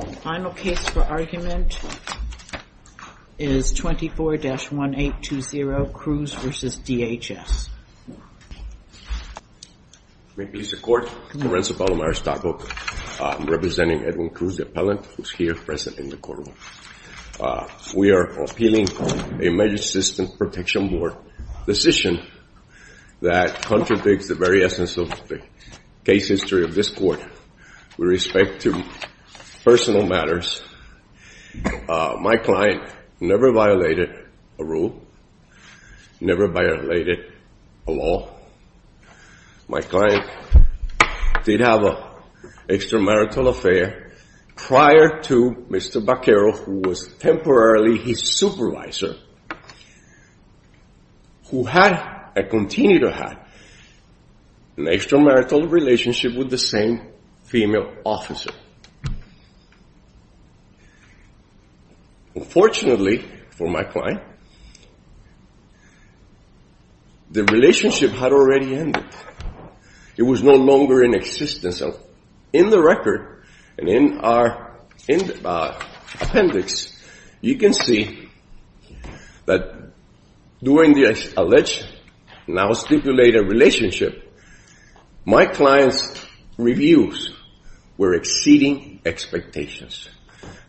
The final case for argument is 24-1820, Cruz v. DHS. May it please the Court, Lorenzo Palomar, Stockholm, representing Edwin Cruz, the appellant, who is here present in the courtroom. We are appealing a Medicine Assistance Protection Board decision that contradicts the very essence of the case history of this Court with respect to personal matters. My client never violated a rule, never violated a law. My client did have an extramarital affair prior to Mr. Baquero, who was temporarily his supervisor, who had and continue to have an extramarital relationship with the same female officer. Unfortunately for my client, the relationship had already ended. It was no longer in existence. In the court, and in our appendix, you can see that during the alleged, now stipulated relationship, my client's reviews were exceeding expectations.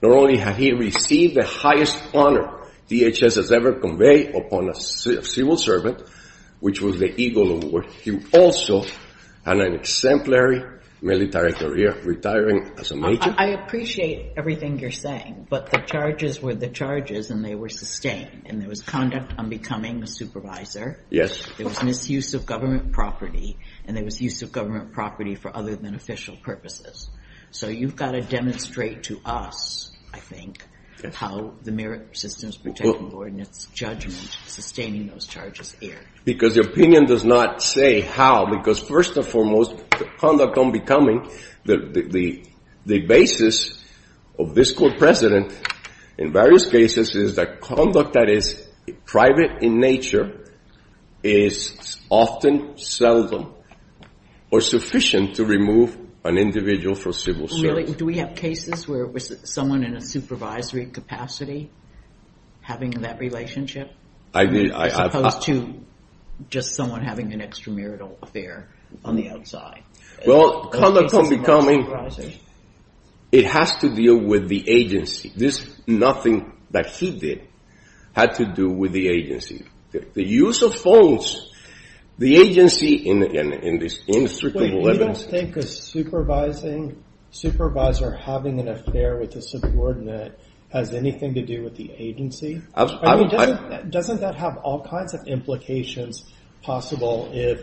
Not only had he received the highest honor DHS has ever conveyed upon a civil servant, which was the Eagle Award, he also had an exemplary military career, retiring as a major. I appreciate everything you're saying, but the charges were the charges and they were sustained. And there was conduct on becoming a supervisor. Yes. There was misuse of government property and there was use of government property for other than official purposes. So you've got to demonstrate to us, I think, how the Merit Systems Protection Board, in its judgment, is sustaining those charges here. Because the opinion does not say how, because first and foremost, conduct on becoming, the basis of this court precedent in various cases is that conduct that is private in nature is often seldom or sufficient to remove an individual from civil service. Do we have cases where it was someone in a supervisory capacity having that relationship, as opposed to just someone having an extramarital affair on the outside? Well, conduct on becoming, it has to deal with the agency. This, nothing that he did, had to do with the agency. The use of force, the agency in this inextricable evidence. Wait, you don't think a supervising, supervisor having an affair with a subordinate has anything to do with the agency? I mean, doesn't that have all kinds of implications possible if,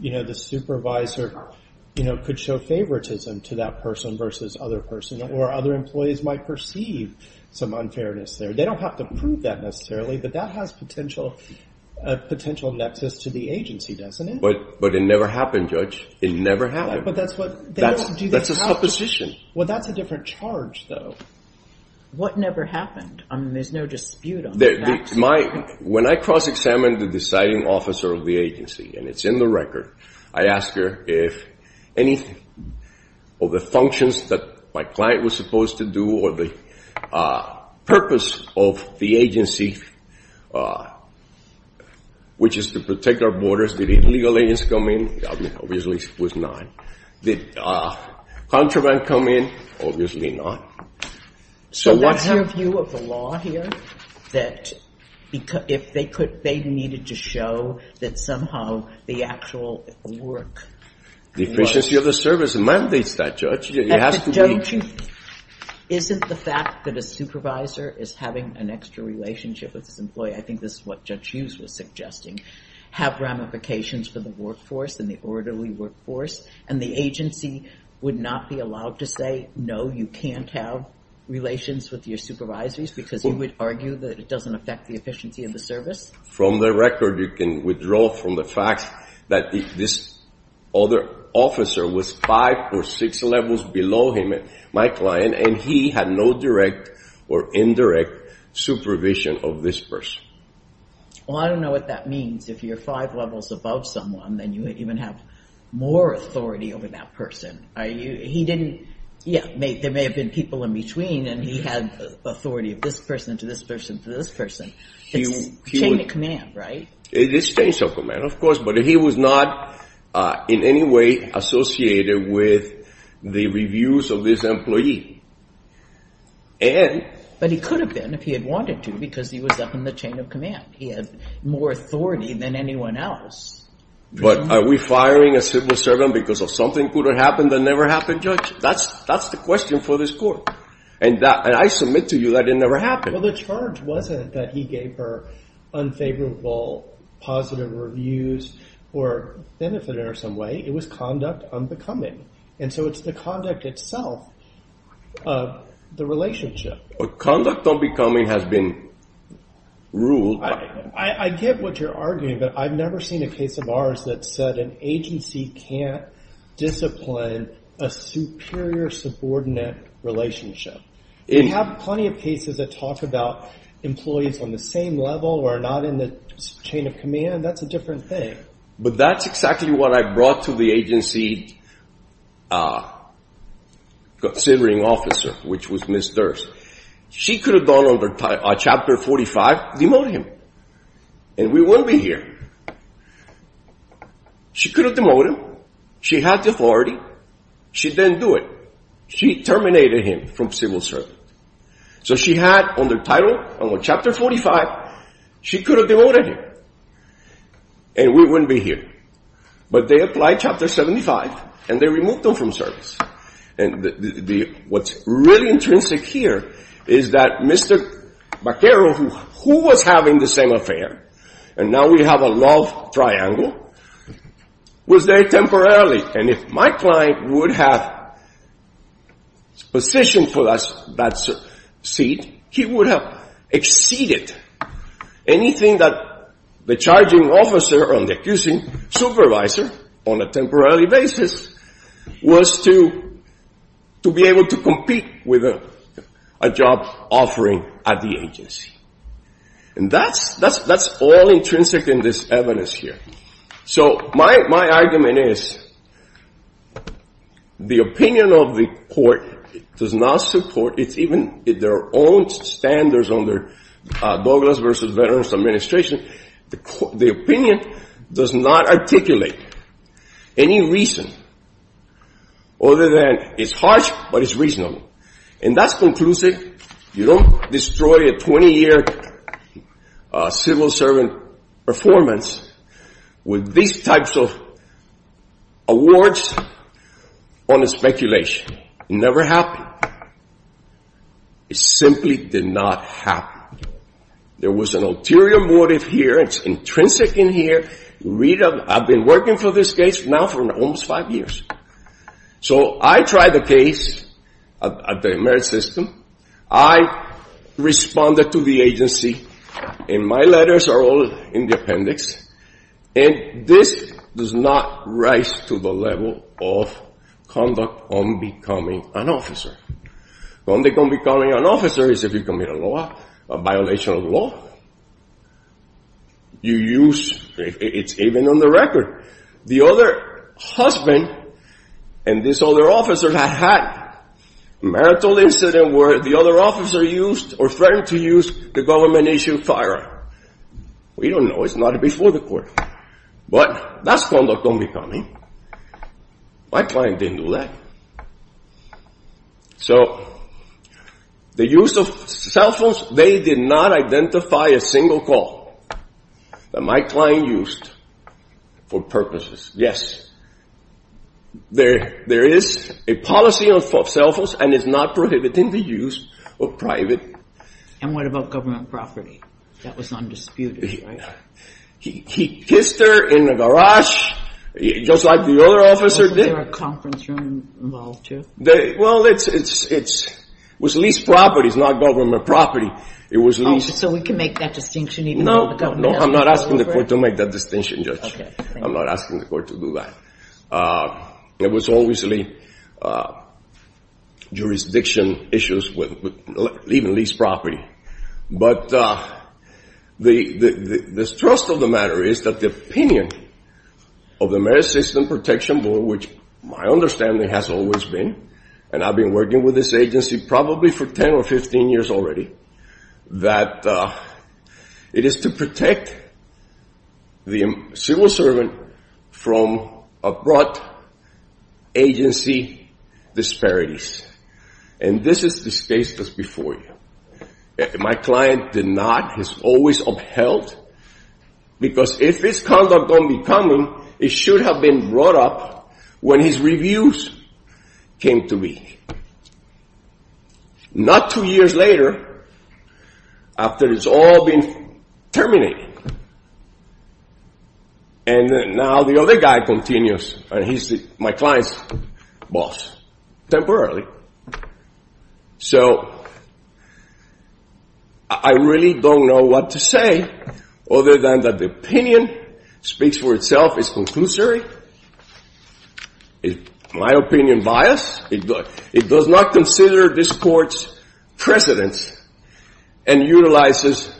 you know, the supervisor, you know, could show favoritism to that person versus other person, or other employees might perceive some unfairness there. They don't have to prove that necessarily, but that has a potential nexus to the agency, doesn't it? But it never happened, Judge. It never happened. That's a supposition. Well, that's a different charge, though. What never happened? I mean, there's no dispute on that. When I cross-examined the deciding officer of the agency, and it's in the record, I ask her if any of the functions that my client was supposed to do, or the purpose of the agency, which is to protect our borders, did illegal agents come in? I mean, obviously it was not. Did contraband come in? Obviously not. So that's your view of the law here? That if they could, they needed to show that somehow the actual work was... The agency of the service mandates that, Judge. It has to be... But, Judge, isn't the fact that a supervisor is having an extra relationship with his employee, I think this is what Judge Hughes was suggesting, have ramifications for the workforce and the orderly workforce, and the agency would not be allowed to say, no, you can't have relations with your supervisors because you would argue that it doesn't affect the efficiency of the service? From the record, you can withdraw from the fact that this other officer was five or six levels below him, my client, and he had no direct or indirect supervision of this person. Well, I don't know what that means. If you're five levels above someone, then you even have more authority over that person. He didn't... Yeah, there may have been people in between, and he had authority of this person to this person to this person. It's a chain of command, right? It is a chain of command, of course, but he was not in any way associated with the reviews of this employee. And... But he could have been if he had wanted to, because he was up in the chain of command. He had more authority than anyone else. But are we firing a civil servant because of something could have happened that never happened, Judge? That's the question for this court. And I submit to you that it never happened. Well, the charge wasn't that he gave her unfavorable positive reviews or benefited in some way. It was conduct unbecoming. And so it's the conduct itself, the relationship. Conduct unbecoming has been ruled by... I get what you're arguing, but I've never seen a case of ours that said an agency can't discipline a superior subordinate relationship. We have plenty of cases that talk about employees on the same level or not in the chain of command. That's a different thing. But that's exactly what I brought to the agency considering officer, which was Ms. Durst. She could have gone over chapter 45, demote him, and we wouldn't be here. She could have used authority. She didn't do it. She terminated him from civil service. So she had on the title, on chapter 45, she could have demoted him, and we wouldn't be here. But they applied chapter 75, and they removed him from service. And what's really intrinsic here is that Mr. Baquero, who was having the same affair, and my client would have position for that seat, he would have exceeded anything that the charging officer or the accusing supervisor on a temporary basis was to be able to compete with a job offering at the agency. And that's all intrinsic in this evidence here. So my argument is the opinion of the court does not support, it's even their own standards under Douglas v. Veterans Administration, the opinion does not articulate any reason other than it's harsh, but it's reasonable. And that's conclusive. You don't destroy a 20-year civil servant performance with these types of awards on a speculation. It never happened. It simply did not happen. There was an ulterior motive here. It's intrinsic in here. I've been working for this case now for almost five years. So I tried the case at the emergency system. I responded to the agency, and my letters are all in the appendix. And this does not rise to the level of conduct on becoming an officer. Conduct on becoming an officer is if you commit a law, a violation of law, you are a criminal. The other husband and this other officer had had a marital incident where the other officer used or threatened to use the government-issued firearm. We don't know. It's not before the court. But that's conduct on becoming. My client didn't do that. So the use of cell phones, they did not identify a single call that my client used for purposes. Yes. There is a policy of cell phones, and it's not prohibiting the use of private. And what about government property? That was undisputed, right? He kissed her in the garage, just like the other officer did. Wasn't there a conference room involved, too? Well, it was leased property. It's not government property. So we can make that distinction even though the government has to go over it? No, no. I'm not asking the court to make that distinction, Judge. I'm not asking the court to do that. It was always jurisdiction issues with even leased property. But the trust of the matter is that the opinion of the Marriage System Protection Board, which my understanding has always been, and I've been working with this agency probably for 10 or 15 years already, that it is to protect the civil rights of the married couple serving from abrupt agency disparities. And this is the case that's before you. My client did not, has always upheld, because if this conduct don't be coming, it should have been brought up when his reviews came to me. Not two years later, after it's all been terminated. And now the other guy continues, and he's my client's boss. Temporarily. So I really don't know what to say other than that the opinion speaks for itself. It's conclusory. It's my opinion bias. It does not consider this court's precedence and utilizes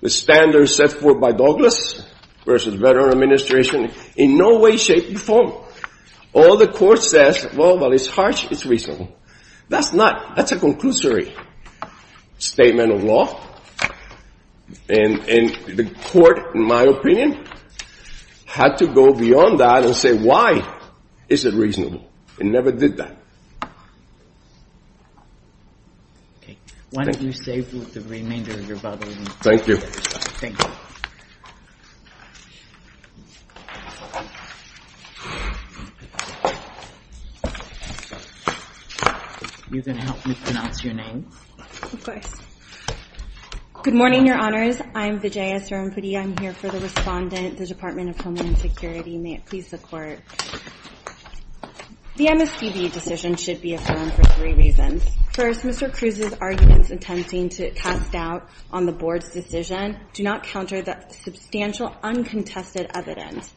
the standards set forth by Douglas versus Veterans Administration in no way, shape, or form. All the court says, well, while it's harsh, it's reasonable. That's not. That's a conclusory statement of law. And the court, in my opinion, had to go beyond that and say, why is it reasonable? It never did that. Okay. Why don't you save the remainder of your bubble. Thank you. You can help me pronounce your name. Of course. Good morning, your honors. I'm Vijaya Sarampudi. I'm here for the respondent, the Department of Homeland Security. May it please the court. The MSDB decision should be affirmed for three reasons. First, Mr. Cruz's arguments intending to cast doubt on the board's decision do not counter that substantial, uncontested evidence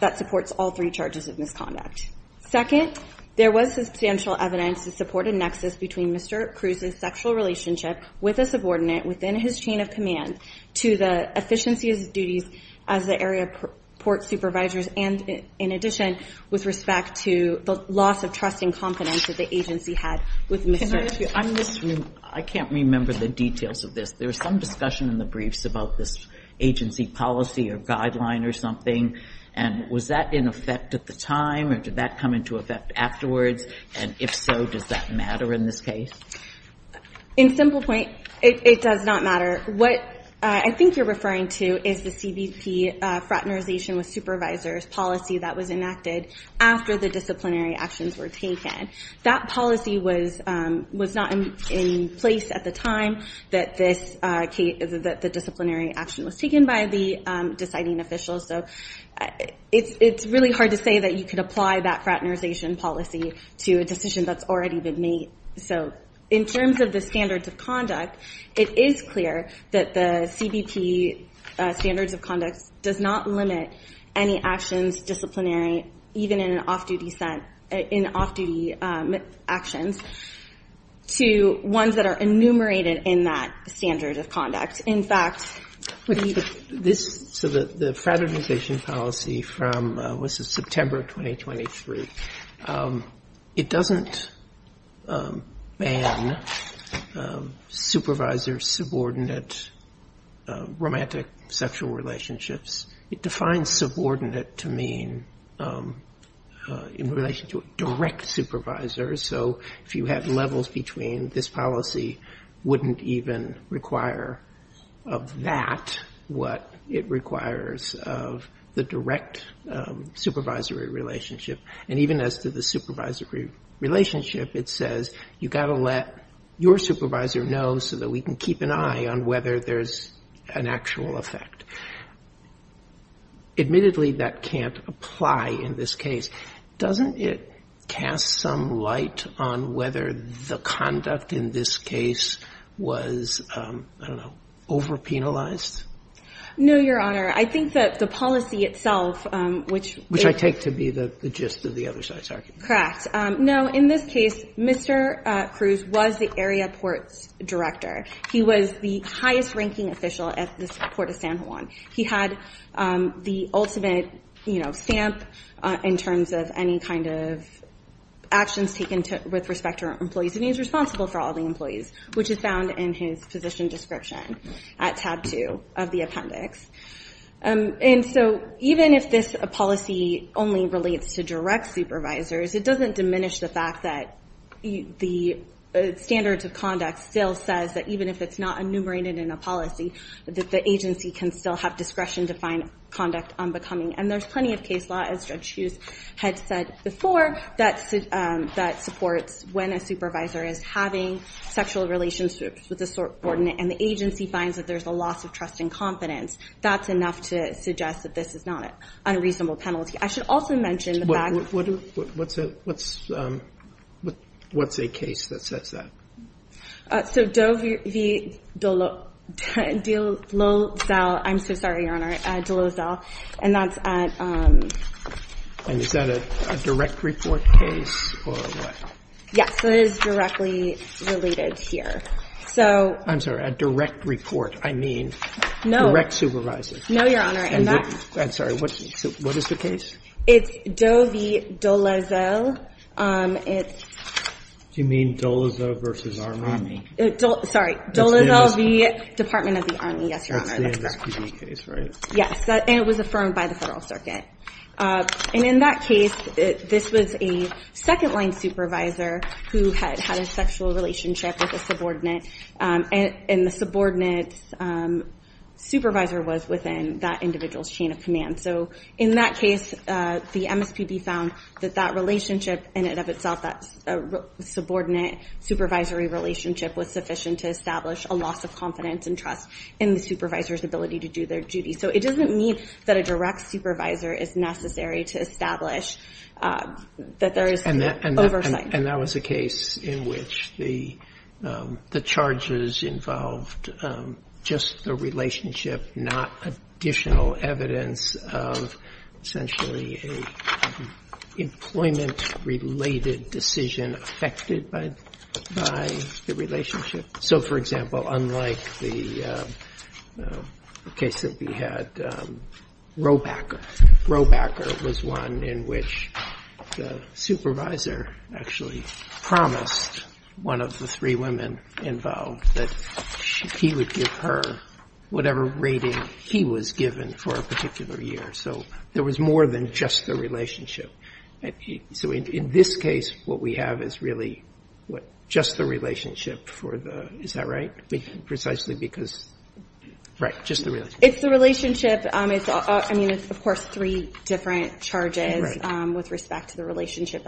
that supports all three charges of misconduct. Second, there was substantial evidence to support a nexus between Mr. Cruz's sexual relationship with a subordinate within his chain of command to the efficiency of his duties as the area port supervisor, and in addition, with respect to the loss of trust and confidence that the agency had with Mr. Cruz. I can't remember the details of this. There was some discussion in the briefs about this agency policy or guideline or something. And was that in effect at the time, or did that come into effect afterwards? And if so, does that matter in this case? In simple point, it does not matter. What I think you're referring to is the CBP fraternization with supervisors policy that was enacted after the disciplinary actions were taken. That policy was not in place at the time that the disciplinary action was taken by the deciding official, so it's really hard to say that you could apply that fraternization policy to a decision that's already been made. So in terms of the standards of conduct, it is clear that the CBP standards of conduct does not limit any actions disciplinary, even in an off-duty set, in off-duty actions, to ones that are enumerated in that standard of conduct. In fact, the fraternization policy was in September of 2023. It doesn't ban supervisor-subordinate romantic sexual relationships. It defines subordinate to mean in relation to a direct supervisor, so if you had levels between, this policy wouldn't even require of that what it requires of the direct supervisory relationship. And even as to the supervisory relationship, it says you've got to let your supervisor know so that we can keep an eye on whether there's an actual effect. Admittedly, that can't apply in this case. Doesn't it cast some light on whether the conduct in this case was, I don't know, overpenalized? No, Your Honor. I think that the policy itself, which Which I take to be the gist of the other side's argument. Correct. No, in this case, Mr. Cruz was the area ports director. He was the highest-ranking official at the port of San Juan. He had the ultimate stamp in terms of any kind of actions taken with respect to our employees, and he's responsible for all the employees, which is found in his position description at tab two of the appendix. And so even if this policy only relates to direct supervisors, it doesn't diminish the fact that the standards of conduct still says that even if it's not enumerated in a policy, that the agency can still have discretion to find conduct unbecoming. And there's plenty of case law, as Judge Hughes had said before, that supports when a supervisor is having sexual relationships with a subordinate and the agency finds that there's a loss of trust and confidence. That's enough to suggest that this is not an unreasonable penalty. I should also mention that in the back. What's a case that says that? So Dole Zell, I'm so sorry, Your Honor, Dole Zell. And that's at... And is that a direct report case or what? Yes, so it is directly related here. So... I'm sorry, a direct report. I mean, direct supervisors. No, Your Honor. I'm sorry, what is the case? It's Doe v. Dole Zell. It's... Do you mean Dole Zell versus Army? Sorry, Dole Zell v. Department of the Army. Yes, Your Honor. That's the MSPD case, right? Yes, and it was affirmed by the Federal Circuit. And in that case, this was a second-line supervisor who had had a sexual relationship with a subordinate, and the subordinate supervisor was within that individual's command. So in that case, the MSPD found that that relationship in and of itself, that subordinate supervisory relationship was sufficient to establish a loss of confidence and trust in the supervisor's ability to do their duty. So it doesn't mean that a direct supervisor is necessary to establish that there is oversight. And that was a case in which the charges involved just the relationship, not additional evidence of essentially an employment-related decision affected by the relationship. So, for example, unlike the case that we had, Roebacker. Roebacker was one in which the supervisor actually promised one of the three women involved that he would give her whatever rating he was given for a particular year. So there was more than just the relationship. So in this case, what we have is really just the relationship for the, is that right? Precisely because, right, just the relationship. It's the relationship. I mean, it's, of course, three different charges with respect to the relationship.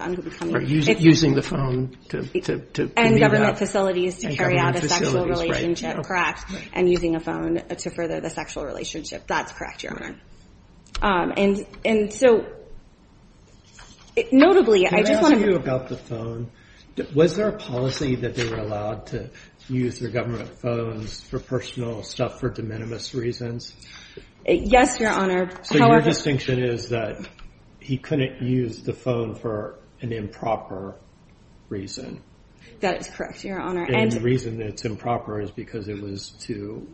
Using the phone. And government facilities to carry out a sexual relationship. Correct. And using a phone to further the sexual relationship. That's correct, Your Honor. And so, notably, I just want to- Can I ask you about the phone? Was there a policy that they were allowed to use their government phones for personal stuff for de minimis reasons? Yes, Your Honor. However- So your distinction is that he couldn't use the phone for an improper reason? That is correct, Your Honor. And- And the reason that it's improper is because it was to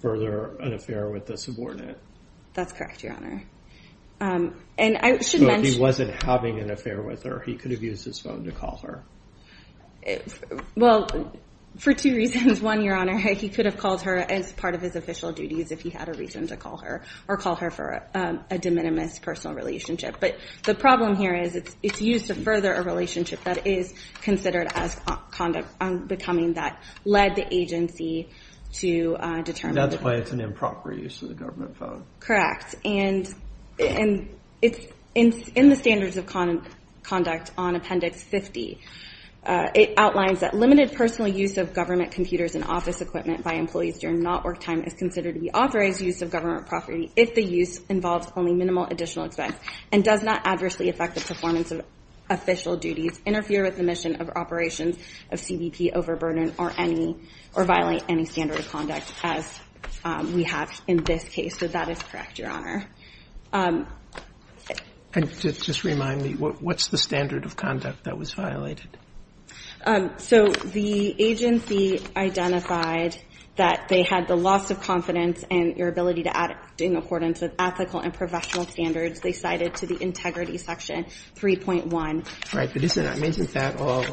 further an affair with a subordinate? That's correct, Your Honor. And I should mention- So if he wasn't having an affair with her, he could have used his phone to call her? Well, for two reasons. One, Your Honor, he could have called her as part of his official duties if he had a reason to call her, or call her for a de minimis personal relationship. But the problem here is it's used to further a relationship that is considered as conduct becoming that led the agency to determine- And that's why it's an improper use of the government phone? Correct. And in the standards of conduct on Appendix 50, it outlines that limited personal use of government computers and office equipment by employees during not work time is considered to be authorized use of government property if the use involves only minimal additional expense, and does not adversely affect the performance of official duties, interfere with the mission of operations of CBP overburden, or any- or violate any standard of conduct as we have in this case. So that is correct, Your Honor. And just remind me, what's the standard of conduct that was violated? So the agency identified that they had the loss of confidence and your ability to act in accordance with ethical and professional standards. They cited to the integrity section 3.1. Right. But isn't that all-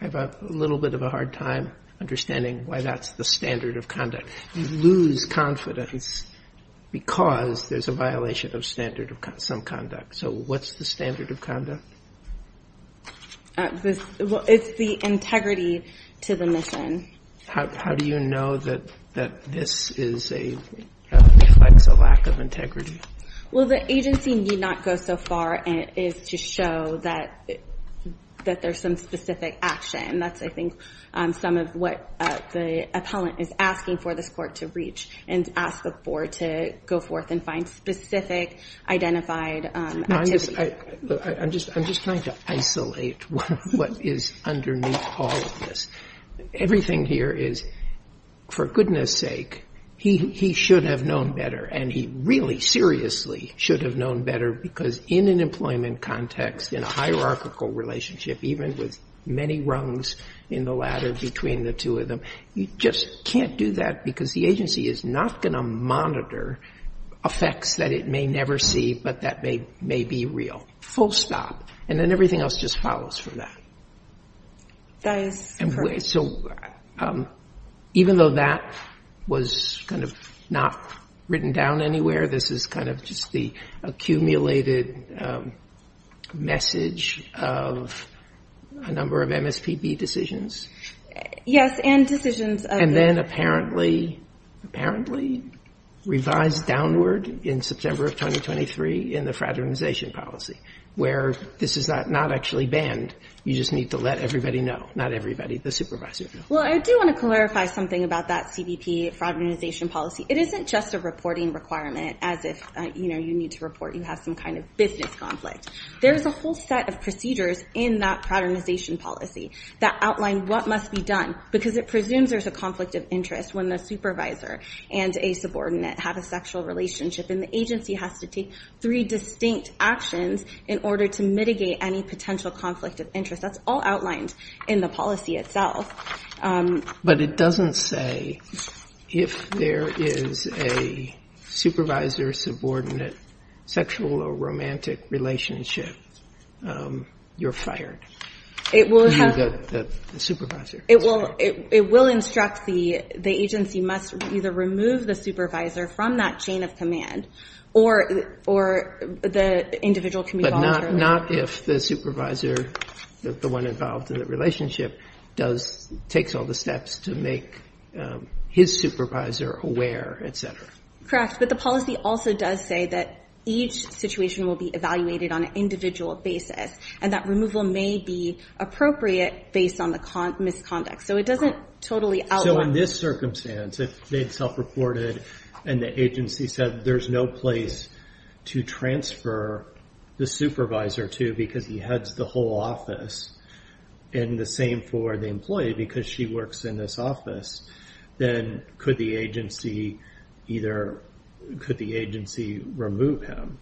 I have a little bit of a hard time understanding why that's the standard of conduct. You lose confidence because there's a violation of standard of some conduct. So what's the standard of conduct? It's the integrity to the mission. How do you know that this is a- reflects a lack of integrity? Well, the agency need not go so far as to show that there's some specific action. That's, I think, some of what the appellant is asking for this court to reach, and ask the board to go forth and find specific identified activities. I'm just trying to isolate what is underneath all of this. Everything here is, for goodness sake, he should have known better, and he really seriously should have known better, because in an employment context, in a hierarchical relationship, even with many rungs in the ladder between the two of them, you just can't do that because the agency is not monitor effects that it may never see, but that may be real. Full stop. And then everything else just follows from that. That is correct. So even though that was kind of not written down anywhere, this is kind of just the accumulated message of a number of MSPB decisions? Yes, and decisions of- And then apparently revised downward in September of 2023 in the fraternization policy, where this is not actually banned. You just need to let everybody know. Not everybody, the supervisor. Well, I do want to clarify something about that CBP fraternization policy. It isn't just a reporting requirement as if you need to report you have some kind of business conflict. There's a whole set of procedures in that fraternization policy that outline what must be done because it presumes there's a conflict of interest when the supervisor and a subordinate have a sexual relationship and the agency has to take three distinct actions in order to mitigate any potential conflict of interest. That's all outlined in the policy itself. But it doesn't say if there is a supervisor, subordinate, sexual or romantic relationship, you're fired. It will have- Supervisor. It will instruct the agency must either remove the supervisor from that chain of command or the individual can be followed through. Not if the supervisor, the one involved in the relationship, takes all the steps to make his supervisor aware, et cetera. Correct, but the policy also does say that each situation will be evaluated on an individual basis and that removal may be appropriate based on the misconduct. So it doesn't totally outline- So in this circumstance, if they had self-reported and the agency said there's no place to transfer the supervisor to because he heads the whole office and the same for the employee because she works in this office, then could the agency remove him?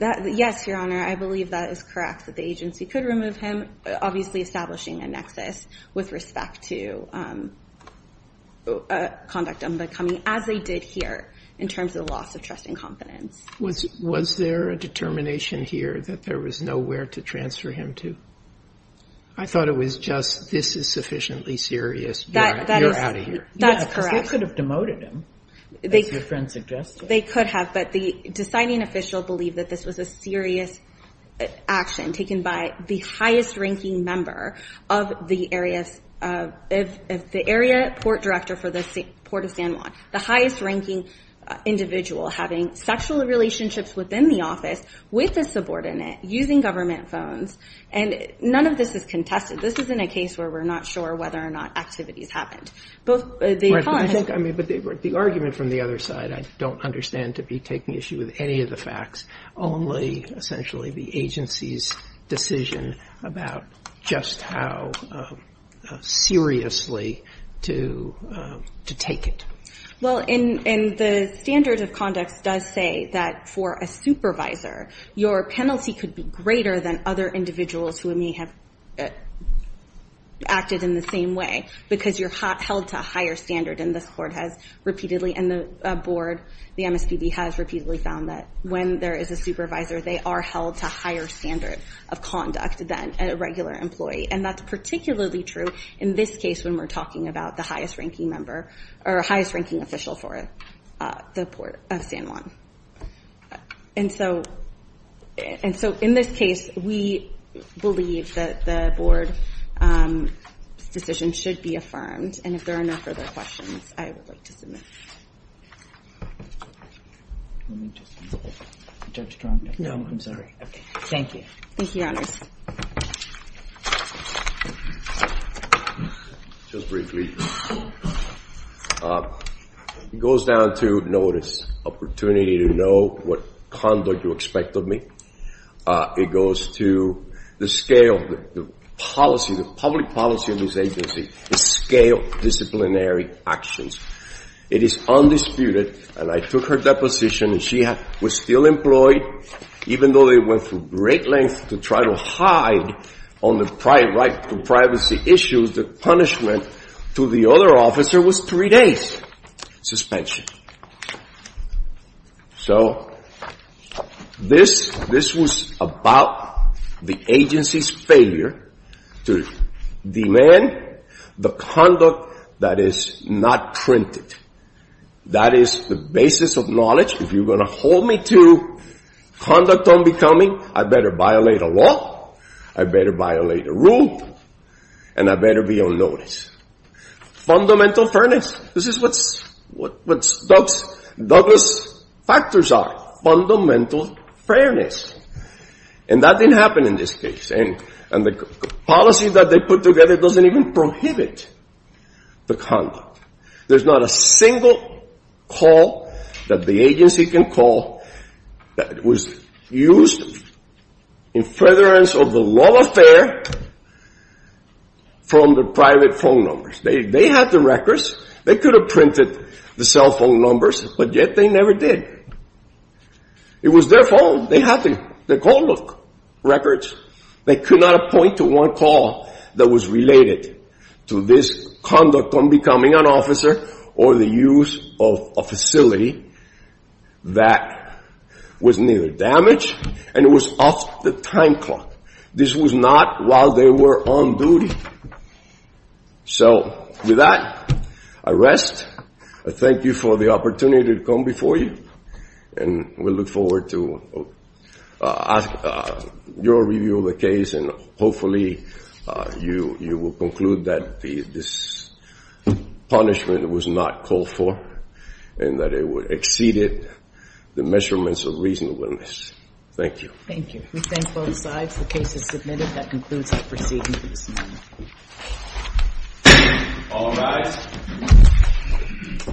Yes, Your Honor, I believe that is correct, that the agency could remove him, obviously establishing a nexus with respect to conduct unbecoming as they did here in terms of the loss of trust and confidence. Was there a determination here that there was nowhere to transfer him to? I thought it was just this is sufficiently serious, you're out of here. That's correct. They could have demoted him, as your friend suggested. They could have, but the deciding official believed that this was a serious action taken by the highest-ranking member of the area, the area port director for the Port of San Juan, the highest-ranking individual having sexual relationships within the office with a subordinate, using government phones, and none of this is contested. This isn't a case where we're not sure whether or not activities happened. But the argument from the other side, I don't understand to be taking issue with any of the facts, only essentially the agency's decision about just how seriously to take it. Well, the standard of conduct does say that for a supervisor, your penalty could be greater than other individuals who may have acted in the same way, because you're held to a higher standard. And this court has repeatedly, and the board, the MSPB has repeatedly found that when there is a supervisor, they are held to a higher standard of conduct than a regular employee. And that's particularly true in this case when we're talking about the highest-ranking member, or highest-ranking official for the Port of San Juan. And so in this case, we believe that the board's decision should be affirmed. And if there are no further questions, I would like to submit. Let me just, Judge Drummond. No, I'm sorry. Okay. Thank you. Thank you, Your Honors. Just briefly, it goes down to notice, opportunity to know what conduct you expect of me. It goes to the scale, the policy, the public policy of this agency is scale disciplinary actions. It is undisputed, and I took her deposition, and she was still employed, even though they went through great lengths to try to hide on the right to privacy issues, the punishment to the other officer was three days suspension. So this was about the agency's failure to demand the conduct that is not printed. That is the basis of knowledge. If you're going to hold me to conduct unbecoming, I better violate a law, I better violate a rule, and I better be on notice. Fundamental fairness, this is what Douglas' factors are, fundamental fairness. And that didn't happen in this case, and the policy that they put together doesn't even prohibit the conduct. There's not a single call that the agency can call that was used in furtherance of the law affair from the private phone numbers. They had the records. They could have printed the cell phone numbers, but yet they never did. It was their phone. They had the call book records. They could not point to one call that was related to this conduct on becoming an officer or the use of a facility that was neither damaged, and it was off the time clock. This was not while they were on duty. So with that, I rest. Thank you for the opportunity to come before you, and we look forward to your review. Hopefully you will conclude that this punishment was not called for and that it exceeded the measurements of reasonableness. Thank you. Thank you. We thank both sides. The case is submitted. That concludes our proceedings. All rise.